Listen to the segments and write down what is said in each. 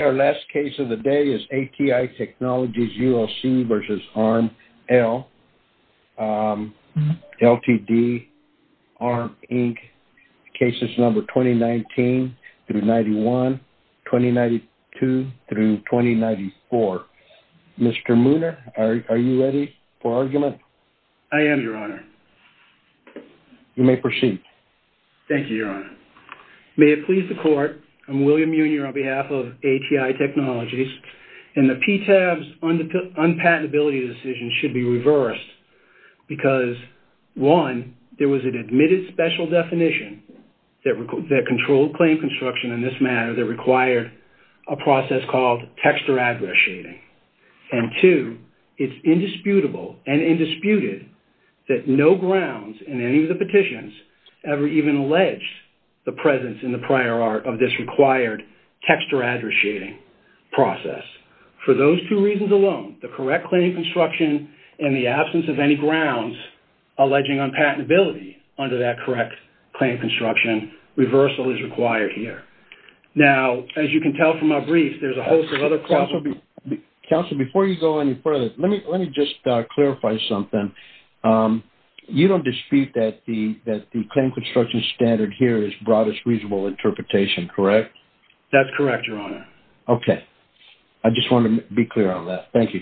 Our last case of the day is ATI Technologies ULC v. ARM Ltd. cases number 2019-91, 2092-2094. Mr. Mooner, are you ready for argument? I am, Your Honor. Thank you, Your Honor. May it please the Court, I'm William Mooner on behalf of ATI Technologies. The PTAB's unpatentability decision should be reversed because, one, there was an admitted special definition that controlled claim construction in this matter that required a process called text or address shading, and two, it's indisputable and indisputed that no grounds in any of the petitions ever even alleged the presence in the prior art of this required text or address shading process. For those two reasons alone, the correct claim construction and the absence of any grounds alleging unpatentability under that correct claim construction, reversal is required here. Now, as you can tell from our briefs, there's a Let me just clarify something. You don't dispute that the claim construction standard here is broadest reasonable interpretation, correct? That's correct, Your Honor. Okay. I just want to be clear on that. Thank you.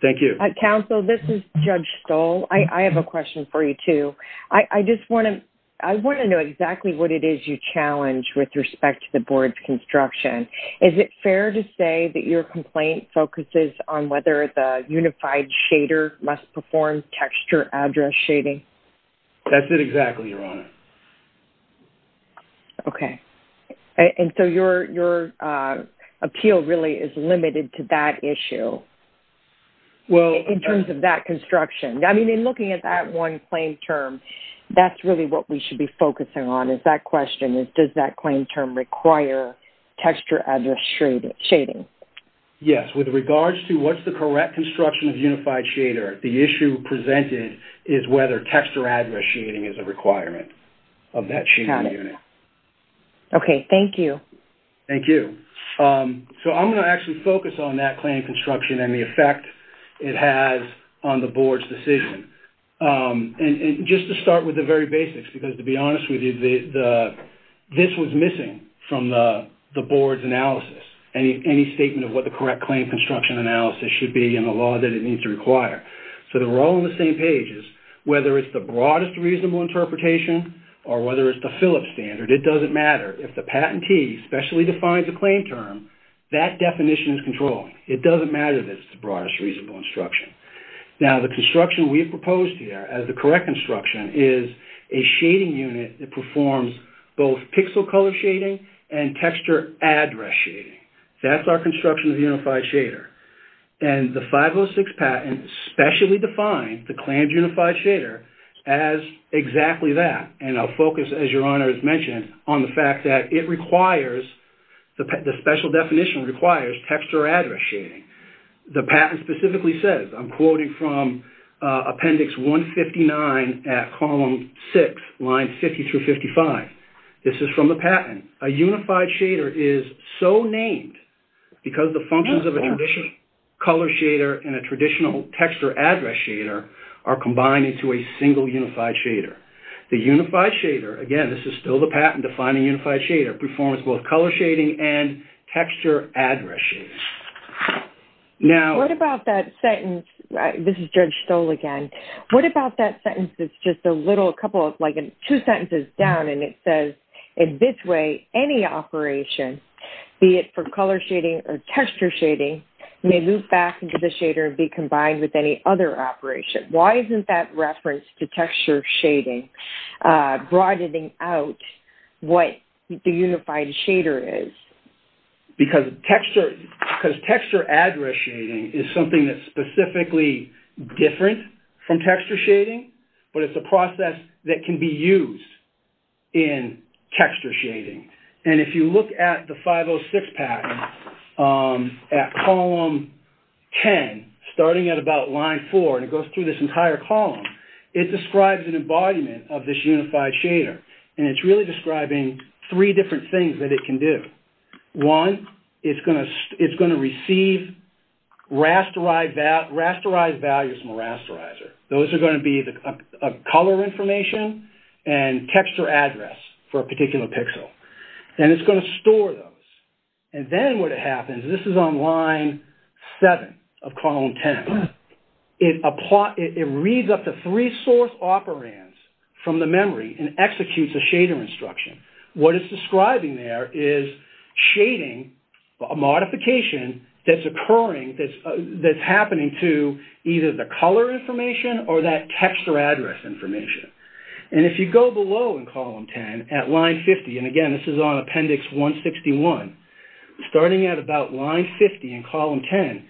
Thank you. Counsel, this is Judge Stoll. I have a question for you, too. I just want to know exactly what it is you challenge with respect to the board's construction. Is it fair to say that your unified shader must perform text or address shading? That's it exactly, Your Honor. Okay. And so, your appeal really is limited to that issue in terms of that construction. I mean, in looking at that one claim term, that's really what we should be focusing on is that question. Does that claim term require text or address shading? Yes. With regards to what's the correct construction of unified shader, the issue presented is whether text or address shading is a requirement of that shading unit. Okay. Thank you. Thank you. So, I'm going to actually focus on that claim construction and the effect it has on the board's decision. And just to start with the very basics, because to be honest with you, I don't have a statement of what the correct claim construction analysis should be and the law that it needs to require. So, they're all on the same pages. Whether it's the broadest reasonable interpretation or whether it's the Phillips standard, it doesn't matter. If the patentee specially defines a claim term, that definition is controlled. It doesn't matter that it's the broadest reasonable instruction. Now, the construction we've proposed here as the correct construction is a shading unit that performs both pixel color shading and texture address shading. That's our construction of the unified shader. And the 506 patent specially defines the claimed unified shader as exactly that. And I'll focus, as your Honor has mentioned, on the fact that it requires, the special definition requires, text or address shading. The patent specifically says, I'm quoting from appendix 159 at column 6, lines 50 through 55. This is from the patent. A unified shader is so named because the functions of a traditional color shader and a traditional text or address shader are combined into a single unified shader. The unified shader, again, this is still the patent defining unified shader, performs both color shading and texture address shading. Now... What about that sentence, this is and it says, in this way, any operation, be it for color shading or texture shading, may loop back into the shader and be combined with any other operation. Why isn't that reference to texture shading broadening out what the unified shader is? Because texture address shading is something that's specifically different from texture shading, but it's a process that can be used in texture shading. And if you look at the 506 patent, at column 10, starting at about line four, and it goes through this entire column, it describes an embodiment of this unified shader. And it's really describing three different things that it can do. One, it's going to receive rasterized values from a rasterizer. Those are going to be the color information and texture address for a particular pixel. And it's going to store those. And then what happens, this is on line seven of column 10, it reads up the three source operands from the memory and executes a pattern. And what it's describing there is shading, a modification that's occurring, that's happening to either the color information or that texture address information. And if you go below in column 10 at line 50, and again, this is on appendix 161, starting at about line 50 in column 10,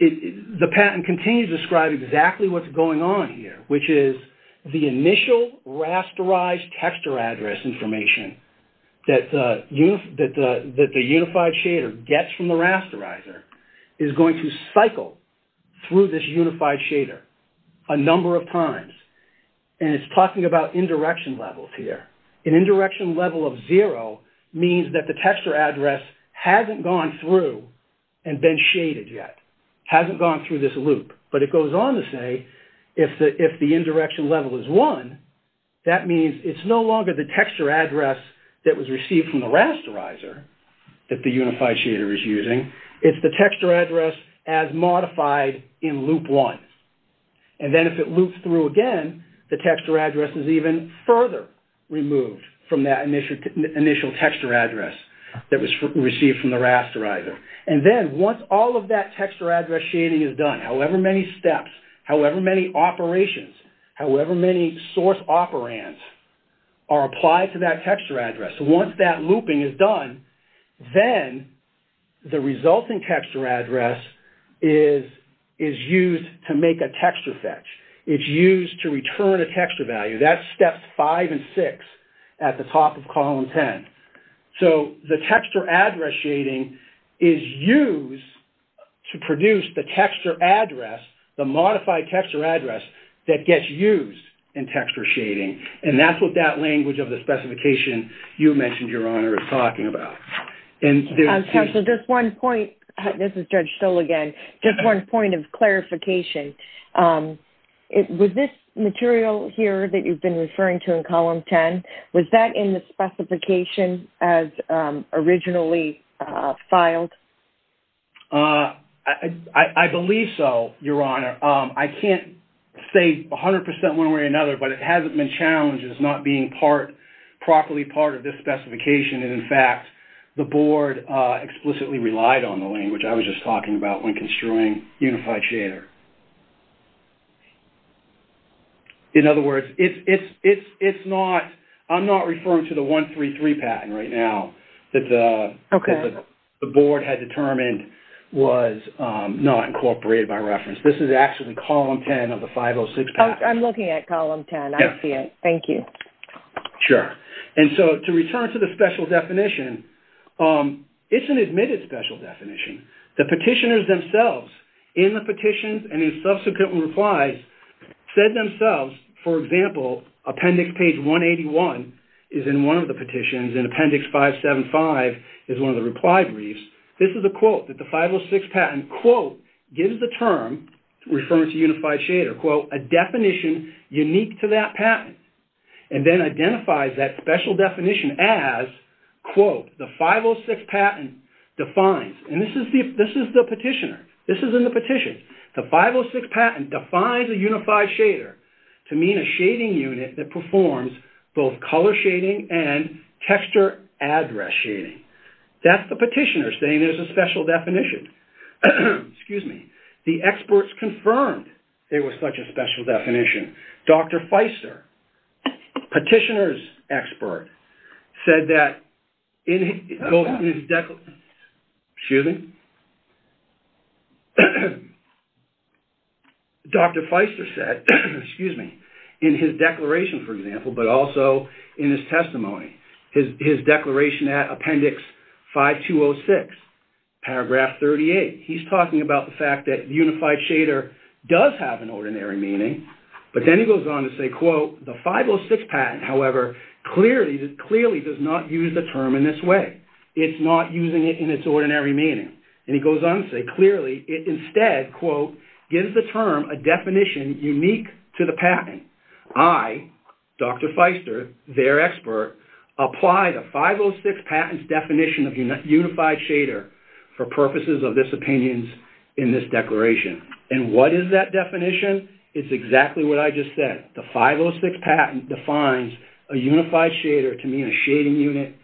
the patent continues to describe exactly what's going on here, which is the initial rasterized texture address information that the unified shader gets from the rasterizer is going to cycle through this unified shader a number of times. And it's talking about indirection levels here. An indirection level of zero means that the texture address hasn't gone through and been shaded yet, hasn't gone through this loop. But it goes on to say, if the indirection level is one, that means it's no longer the texture address that was received from the rasterizer that the unified shader is using, it's the texture address as modified in loop one. And then if it loops through again, the texture address is even further removed from that initial texture address that was received from the rasterizer. And then once all of that texture address shading is done, however many steps, however many operations, however many source operands are applied to that texture address, once that looping is done, then the resulting texture address is used to make a texture fetch. It's used to return a texture value. That's steps five and six at the top of column 10. So the texture address shading is used to produce the texture address, the modified texture address that gets used in texture shading. And that's what that language of the specification you mentioned, Your Honor, is talking about. And there's... Counsel, just one point. This is Judge Stoll again. Just one point of clarification. With this material here that you've been referring to in column 10, was that in the specification as originally filed? I believe so, Your Honor. I can't say 100% one way or another, but it hasn't been challenged as not being properly part of this specification. And in fact, the board explicitly relied on the 506 patent there. In other words, it's not... I'm not referring to the 133 patent right now that the board had determined was not incorporated by reference. This is actually column 10 of the 506 patent. Oh, I'm looking at column 10. I see it. Thank you. Sure. And so to return to the special definition, it's an admitted special definition. The petitioners in the petitions and in subsequent replies said themselves, for example, appendix page 181 is in one of the petitions and appendix 575 is one of the reply briefs. This is a quote that the 506 patent, quote, gives the term referring to unified shader, quote, a definition unique to that patent. And then identifies that special definition as, quote, the 506 patent defines. And this is the petitioner. This is in the petition. The 506 patent defines a unified shader to mean a shading unit that performs both color shading and texture address shading. That's the petitioner saying there's a special definition. The experts confirmed there was such a special definition. Dr. Feister said, excuse me, in his declaration, for example, but also in his testimony, his declaration at appendix 5206, paragraph 38, he's talking about the fact that unified shader does have an ordinary meaning. But then he goes on to say, quote, the 506 patent, however, clearly does not use the term in this way. It's not using it in its ordinary meaning. And he goes on to say, clearly, it instead, quote, gives the term a definition unique to the patent. I, Dr. Feister, their expert, apply the 506 patent's definition of unified shader for purposes of this opinion in this declaration. And what is that definition? It's exactly what I just said. The 506 patent defines a unified shader to mean a shading unit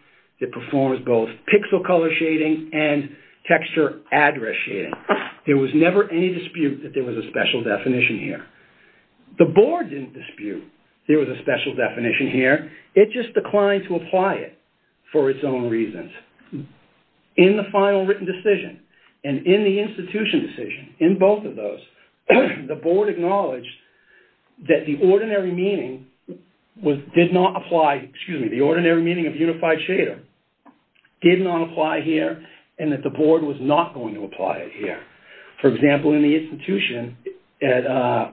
that performs both pixel color shading and texture address shading. There was never any dispute that there was a special definition here. The board didn't dispute there was a special definition here. It just declined to apply it for its own reasons. In the final written decision and in the institution decision, in both of those, the board acknowledged that the ordinary meaning did not apply, excuse me, the ordinary meaning of unified shader did not apply here and that the board was not going to apply it here. For example, in the institution at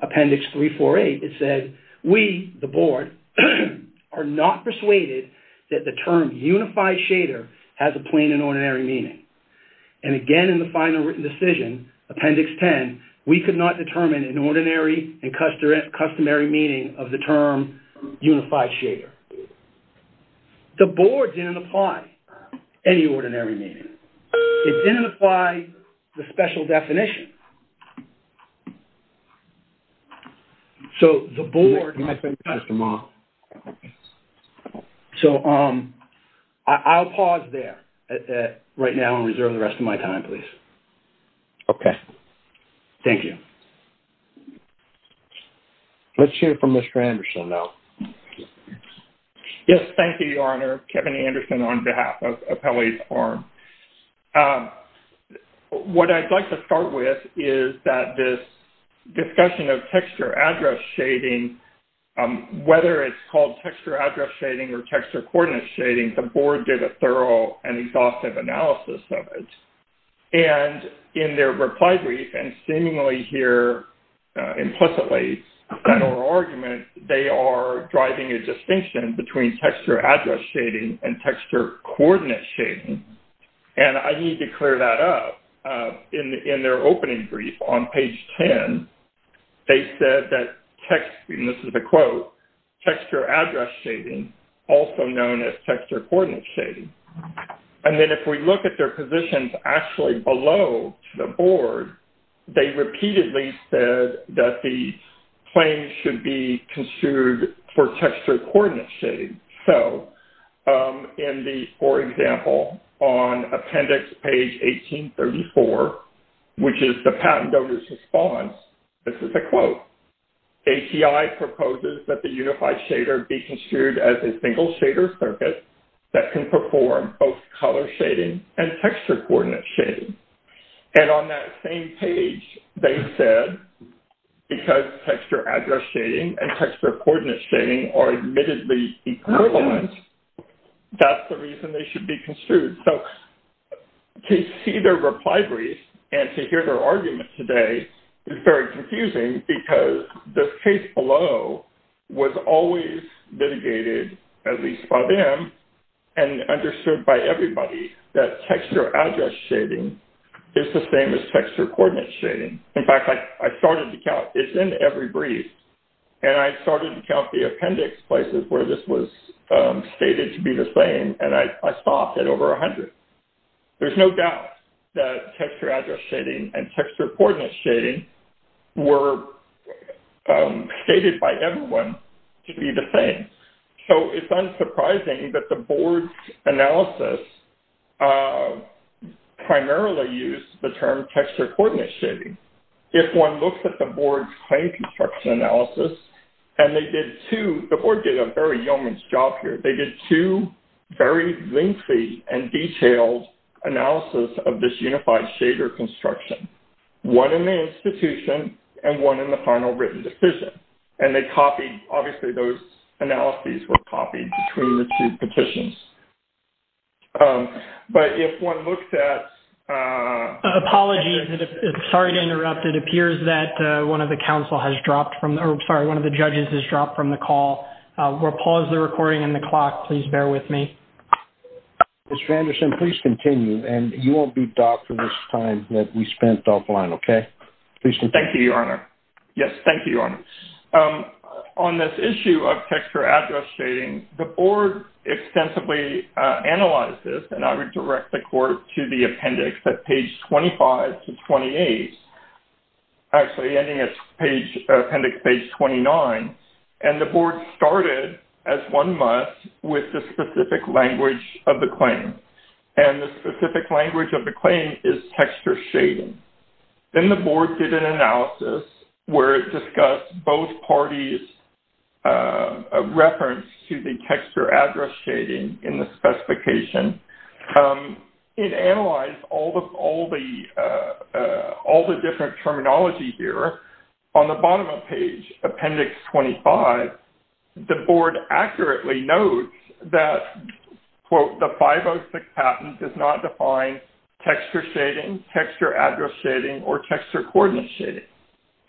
Appendix 348, it said, we, the board, are not persuaded that the term unified shader has a plain and ordinary meaning. And again, in the final written decision, Appendix 10, we could not determine an ordinary and customary meaning of the term unified shader. The board didn't apply any ordinary meaning. It didn't apply the special definition. So, the board... Thank you, Mr. Ma. So, I'll pause there right now and reserve the rest of my time, please. Okay. Thank you. Let's hear from Mr. Anderson now. Yes. Thank you, Your Honor. Kevin Anderson on behalf of Appellate Farm. What I'd like to start with is that this discussion of texture address shading, whether it's called texture address shading or texture coordinate shading, the board did a thorough and exhaustive analysis of it. And in their reply brief and seemingly here implicitly in our argument, they are driving a distinction between texture address shading and texture coordinate shading. And I need to clear that up. In their opening brief on page 10, they said that text, and this is a quote, texture address shading, also known as texture coordinate shading. And then if we look at their positions actually below the board, they repeatedly said that the claim should be construed for texture coordinate shading. So, in the, for example, on appendix page 1834, which is the patent donor's response, this is a quote, API proposes that the unified shader be construed as a single shader circuit that can perform both color shading and texture coordinate shading. And on that same page, they said because texture address shading and texture coordinate shading are admittedly equivalent, that's the reason they should be construed. So, to see their reply brief and to hear their argument today is very confusing because the case below was always litigated, at least by them, and understood by everybody that texture address shading is the same as texture coordinate shading. In fact, I started to count, it's in every brief, and I started to count the appendix places where this was stated to be the same, and I stopped at and texture coordinate shading were stated by everyone to be the same. So, it's unsurprising that the board's analysis primarily used the term texture coordinate shading. If one looks at the board's claim construction analysis, and they did two, the board did a very yeoman's job here. They did two very lengthy and detailed analysis of this unified shader construction, one in the institution, and one in the final written decision. And they copied, obviously, those analyses were copied between the two petitions. But if one looks at... Apologies, sorry to interrupt. It appears that one of the council has dropped from, sorry, one of the judges has dropped from the call. We'll pause the recording and the clock. Please bear with me. Mr. Anderson, please continue, and you won't be docked for this time that we spent offline, okay? Please continue. Thank you, Your Honor. Yes, thank you, Your Honor. On this issue of texture address shading, the board extensively analyzed this, and I would direct the court to the appendix at page 25 to 28, actually ending at appendix page 29. And the board started, as one must, with the specific language of the claim. And the specific language of the claim is texture shading. Then the board did an analysis where it discussed both parties' reference to the texture address shading in the specification. It analyzed all the different terminology here. On the bottom of page appendix 25, the board accurately notes that, quote, the 506 patent does not define texture shading, texture address shading, or texture coordinate shading.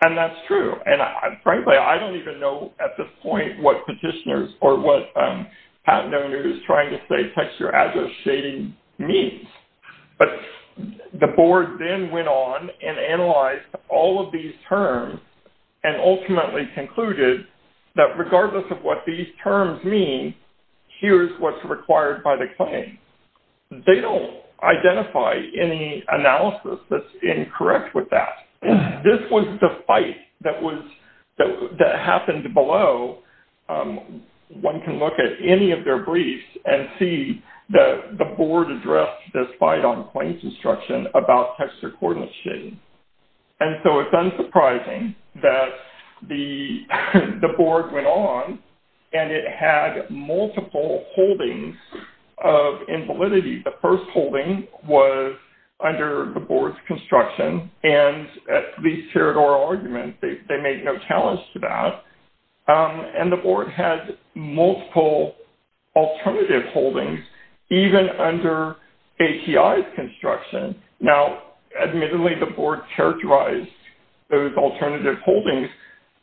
And that's true. And frankly, I don't even know at this point what petitioners or what patent owner is trying to say texture address shading means. But the board then went on and analyzed all of these terms and ultimately concluded that regardless of what these terms mean, here's what's required by the claim. They don't identify any analysis that's incorrect with that. This was the fight that happened below. One can look at any of their briefs and see that the board addressed this fight on claims instruction about texture coordinate shading. And so it's unsurprising that the board went on and it had multiple holdings of invalidity. The first holding was under the board's construction and these territorial arguments, they made no challenge to that. And the board had multiple alternative holdings even under ATI's construction. Now, admittedly, the board characterized those alternative holdings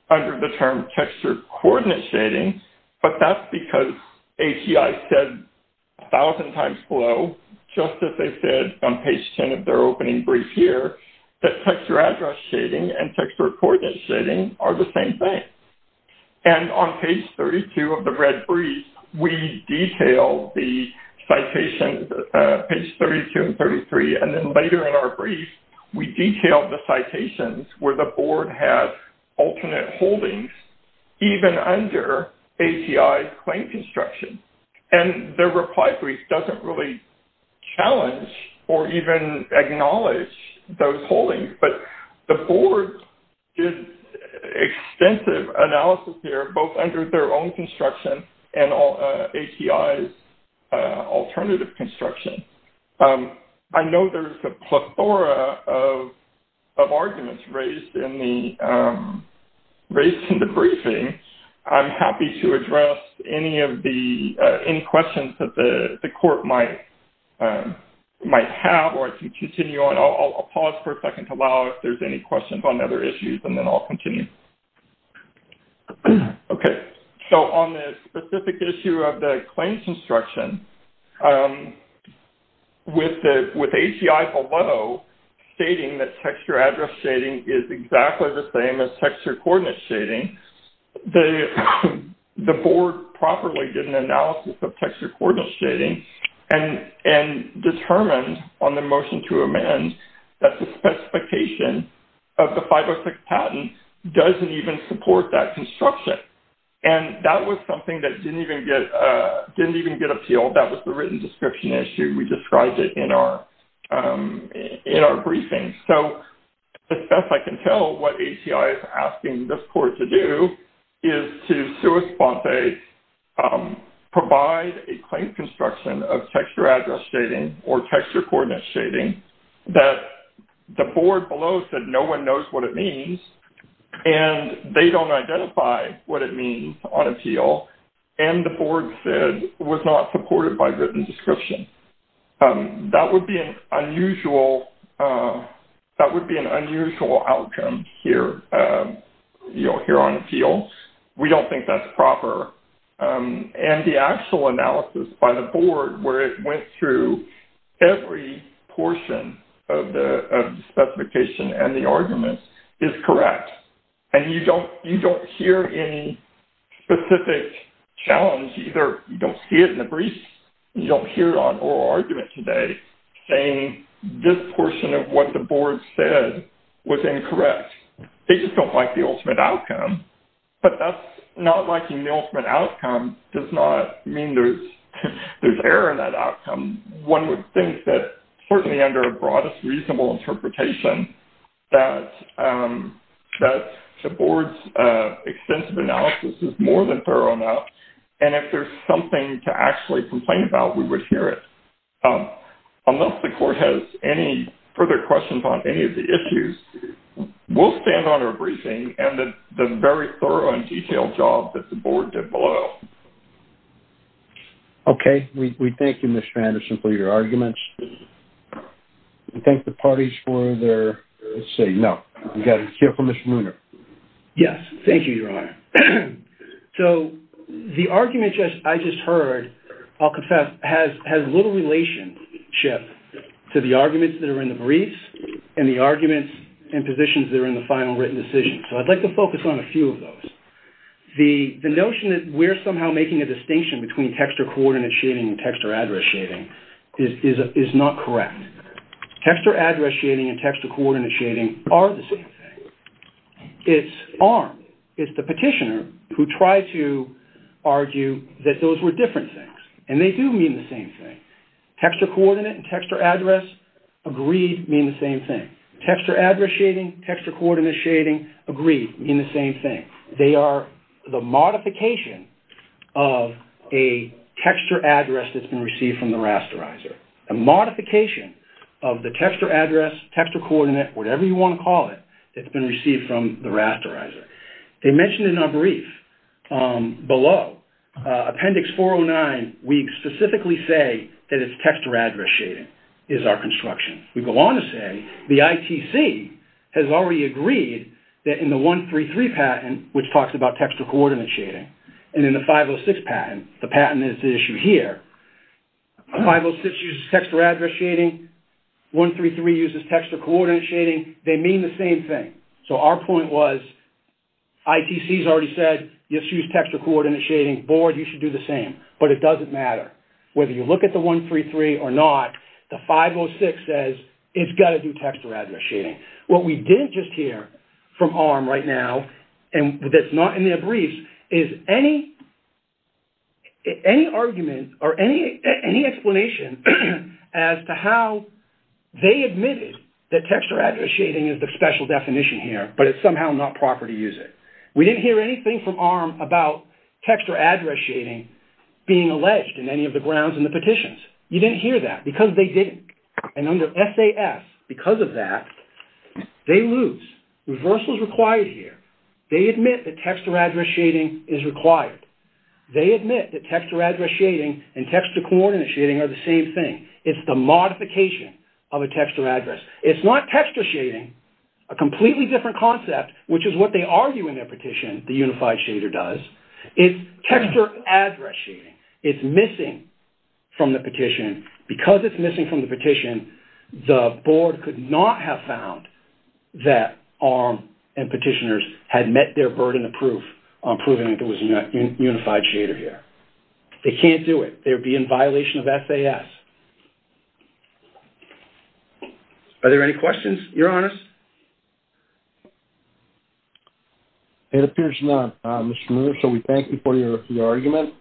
under the term texture coordinate shading, but that's because ATI said a thousand times below, just as they said on page 10 of their opening brief here, that texture address shading and texture coordinate shading are the same thing. And on page 32 of the red brief, we detailed the citation, page 32 and 33, and then later in our brief, we detailed the citations where the board has alternate holdings even under ATI's claim construction. And the reply brief doesn't really challenge or even acknowledge those holdings, but the board did extensive analysis here, both under their own construction and ATI's alternative construction. I know there's a plethora of arguments raised in the briefing. I'm happy to address any questions that the court might have or to continue on. I'll pause for a second to allow if there's any questions on other issues and then I'll continue. Okay. So on the specific issue of the claims construction, with ATI below stating that texture address shading is exactly the same as texture coordinate shading, the board properly did an analysis of texture coordinate shading and determined on the motion to amend that the specification of the 506 patent doesn't even support that construction. And that was something that didn't even get appealed. That was the written description issue. We described it in our briefing. So as best I can tell, what ATI is asking this court to do is to sui sponte, provide a claim construction of texture address shading or texture coordinate shading that the board below said no one knows what it means and they don't identify what it means on appeal and the board said was not supported by written description. That would be an unusual outcome here on appeal. We don't think that's proper. And the actual analysis by the board where it went through every portion of the specification and the argument is correct. And you don't hear any specific challenge either. You don't see it in the briefs. You don't hear it on oral argument today saying this portion of what the board said was incorrect. They just don't like the ultimate outcome. But that's not liking the ultimate outcome does not mean there's error in that outcome. One would think that certainly under broadest reasonable interpretation that the board's extensive analysis is more than thorough enough and if there's something to actually complain about, we would hear it. Unless the court has any further questions on any of the issues, we'll stand on our briefing and the very thorough and detailed job that the board did below. Okay. We thank you, Mr. Anderson, for your arguments. We thank the parties for their... Let's see. No. We've got to hear from Mr. Mooner. Yes. Thank you, Your Honor. So the argument I just heard, I'll confess, has little relationship to the arguments that are in the briefs and the arguments and positions that are in the final written decision. So I'd like to focus on a few of those. The notion that we're making a distinction between text or coordinate and text or address shading is not correct. Text or address shading and text or coordinate shading are the same thing. It's armed. It's the petitioner who tried to argue that those were different things and they do mean the same thing. Text or coordinate and text or address agreed mean the same thing. Text or address shading, text or address is a modification of a text or address that's been received from the rasterizer. A modification of the text or address, text or coordinate, whatever you want to call it, that's been received from the rasterizer. They mentioned in our brief below, Appendix 409, we specifically say that it's text or address shading is our construction. We go on to say the ITC has agreed that in the 133 patent, which talks about text or coordinate shading, and in the 506 patent, the patent is the issue here. 506 uses text or address shading. 133 uses text or coordinate shading. They mean the same thing. So our point was ITC has already said, yes, use text or coordinate shading. Board, you should do the same. But it doesn't matter. Whether you look at the 133 or not, the 506 says it's got to do text or address shading. What we didn't just hear from ARM right now, and that's not in their briefs, is any argument or any explanation as to how they admitted that text or address shading is the special definition here, but it's somehow not proper to use it. We didn't hear anything from ARM about text or address shading being alleged in any of the grounds in the petitions. You didn't hear that because they didn't. And under SAS, because of that, they lose. Reversal is required here. They admit that text or address shading is required. They admit that text or address shading and text or coordinate shading are the same thing. It's the modification of a text or address. It's not text or shading, a completely different concept, which is what they argue in their petition. Because it's missing from the petition, the board could not have found that ARM and petitioners had met their burden of proof on proving that there was a unified shader here. They can't do it. They would be in violation of SAS. Are there any questions, Your Honors? It appears none, Mr. Miller, so we thank you for your argument.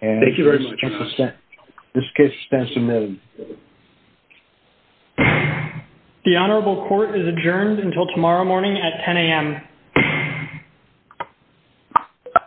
Thank you very much, Your Honors. This case stands admitted. The Honorable Court is adjourned until tomorrow morning at 10 a.m.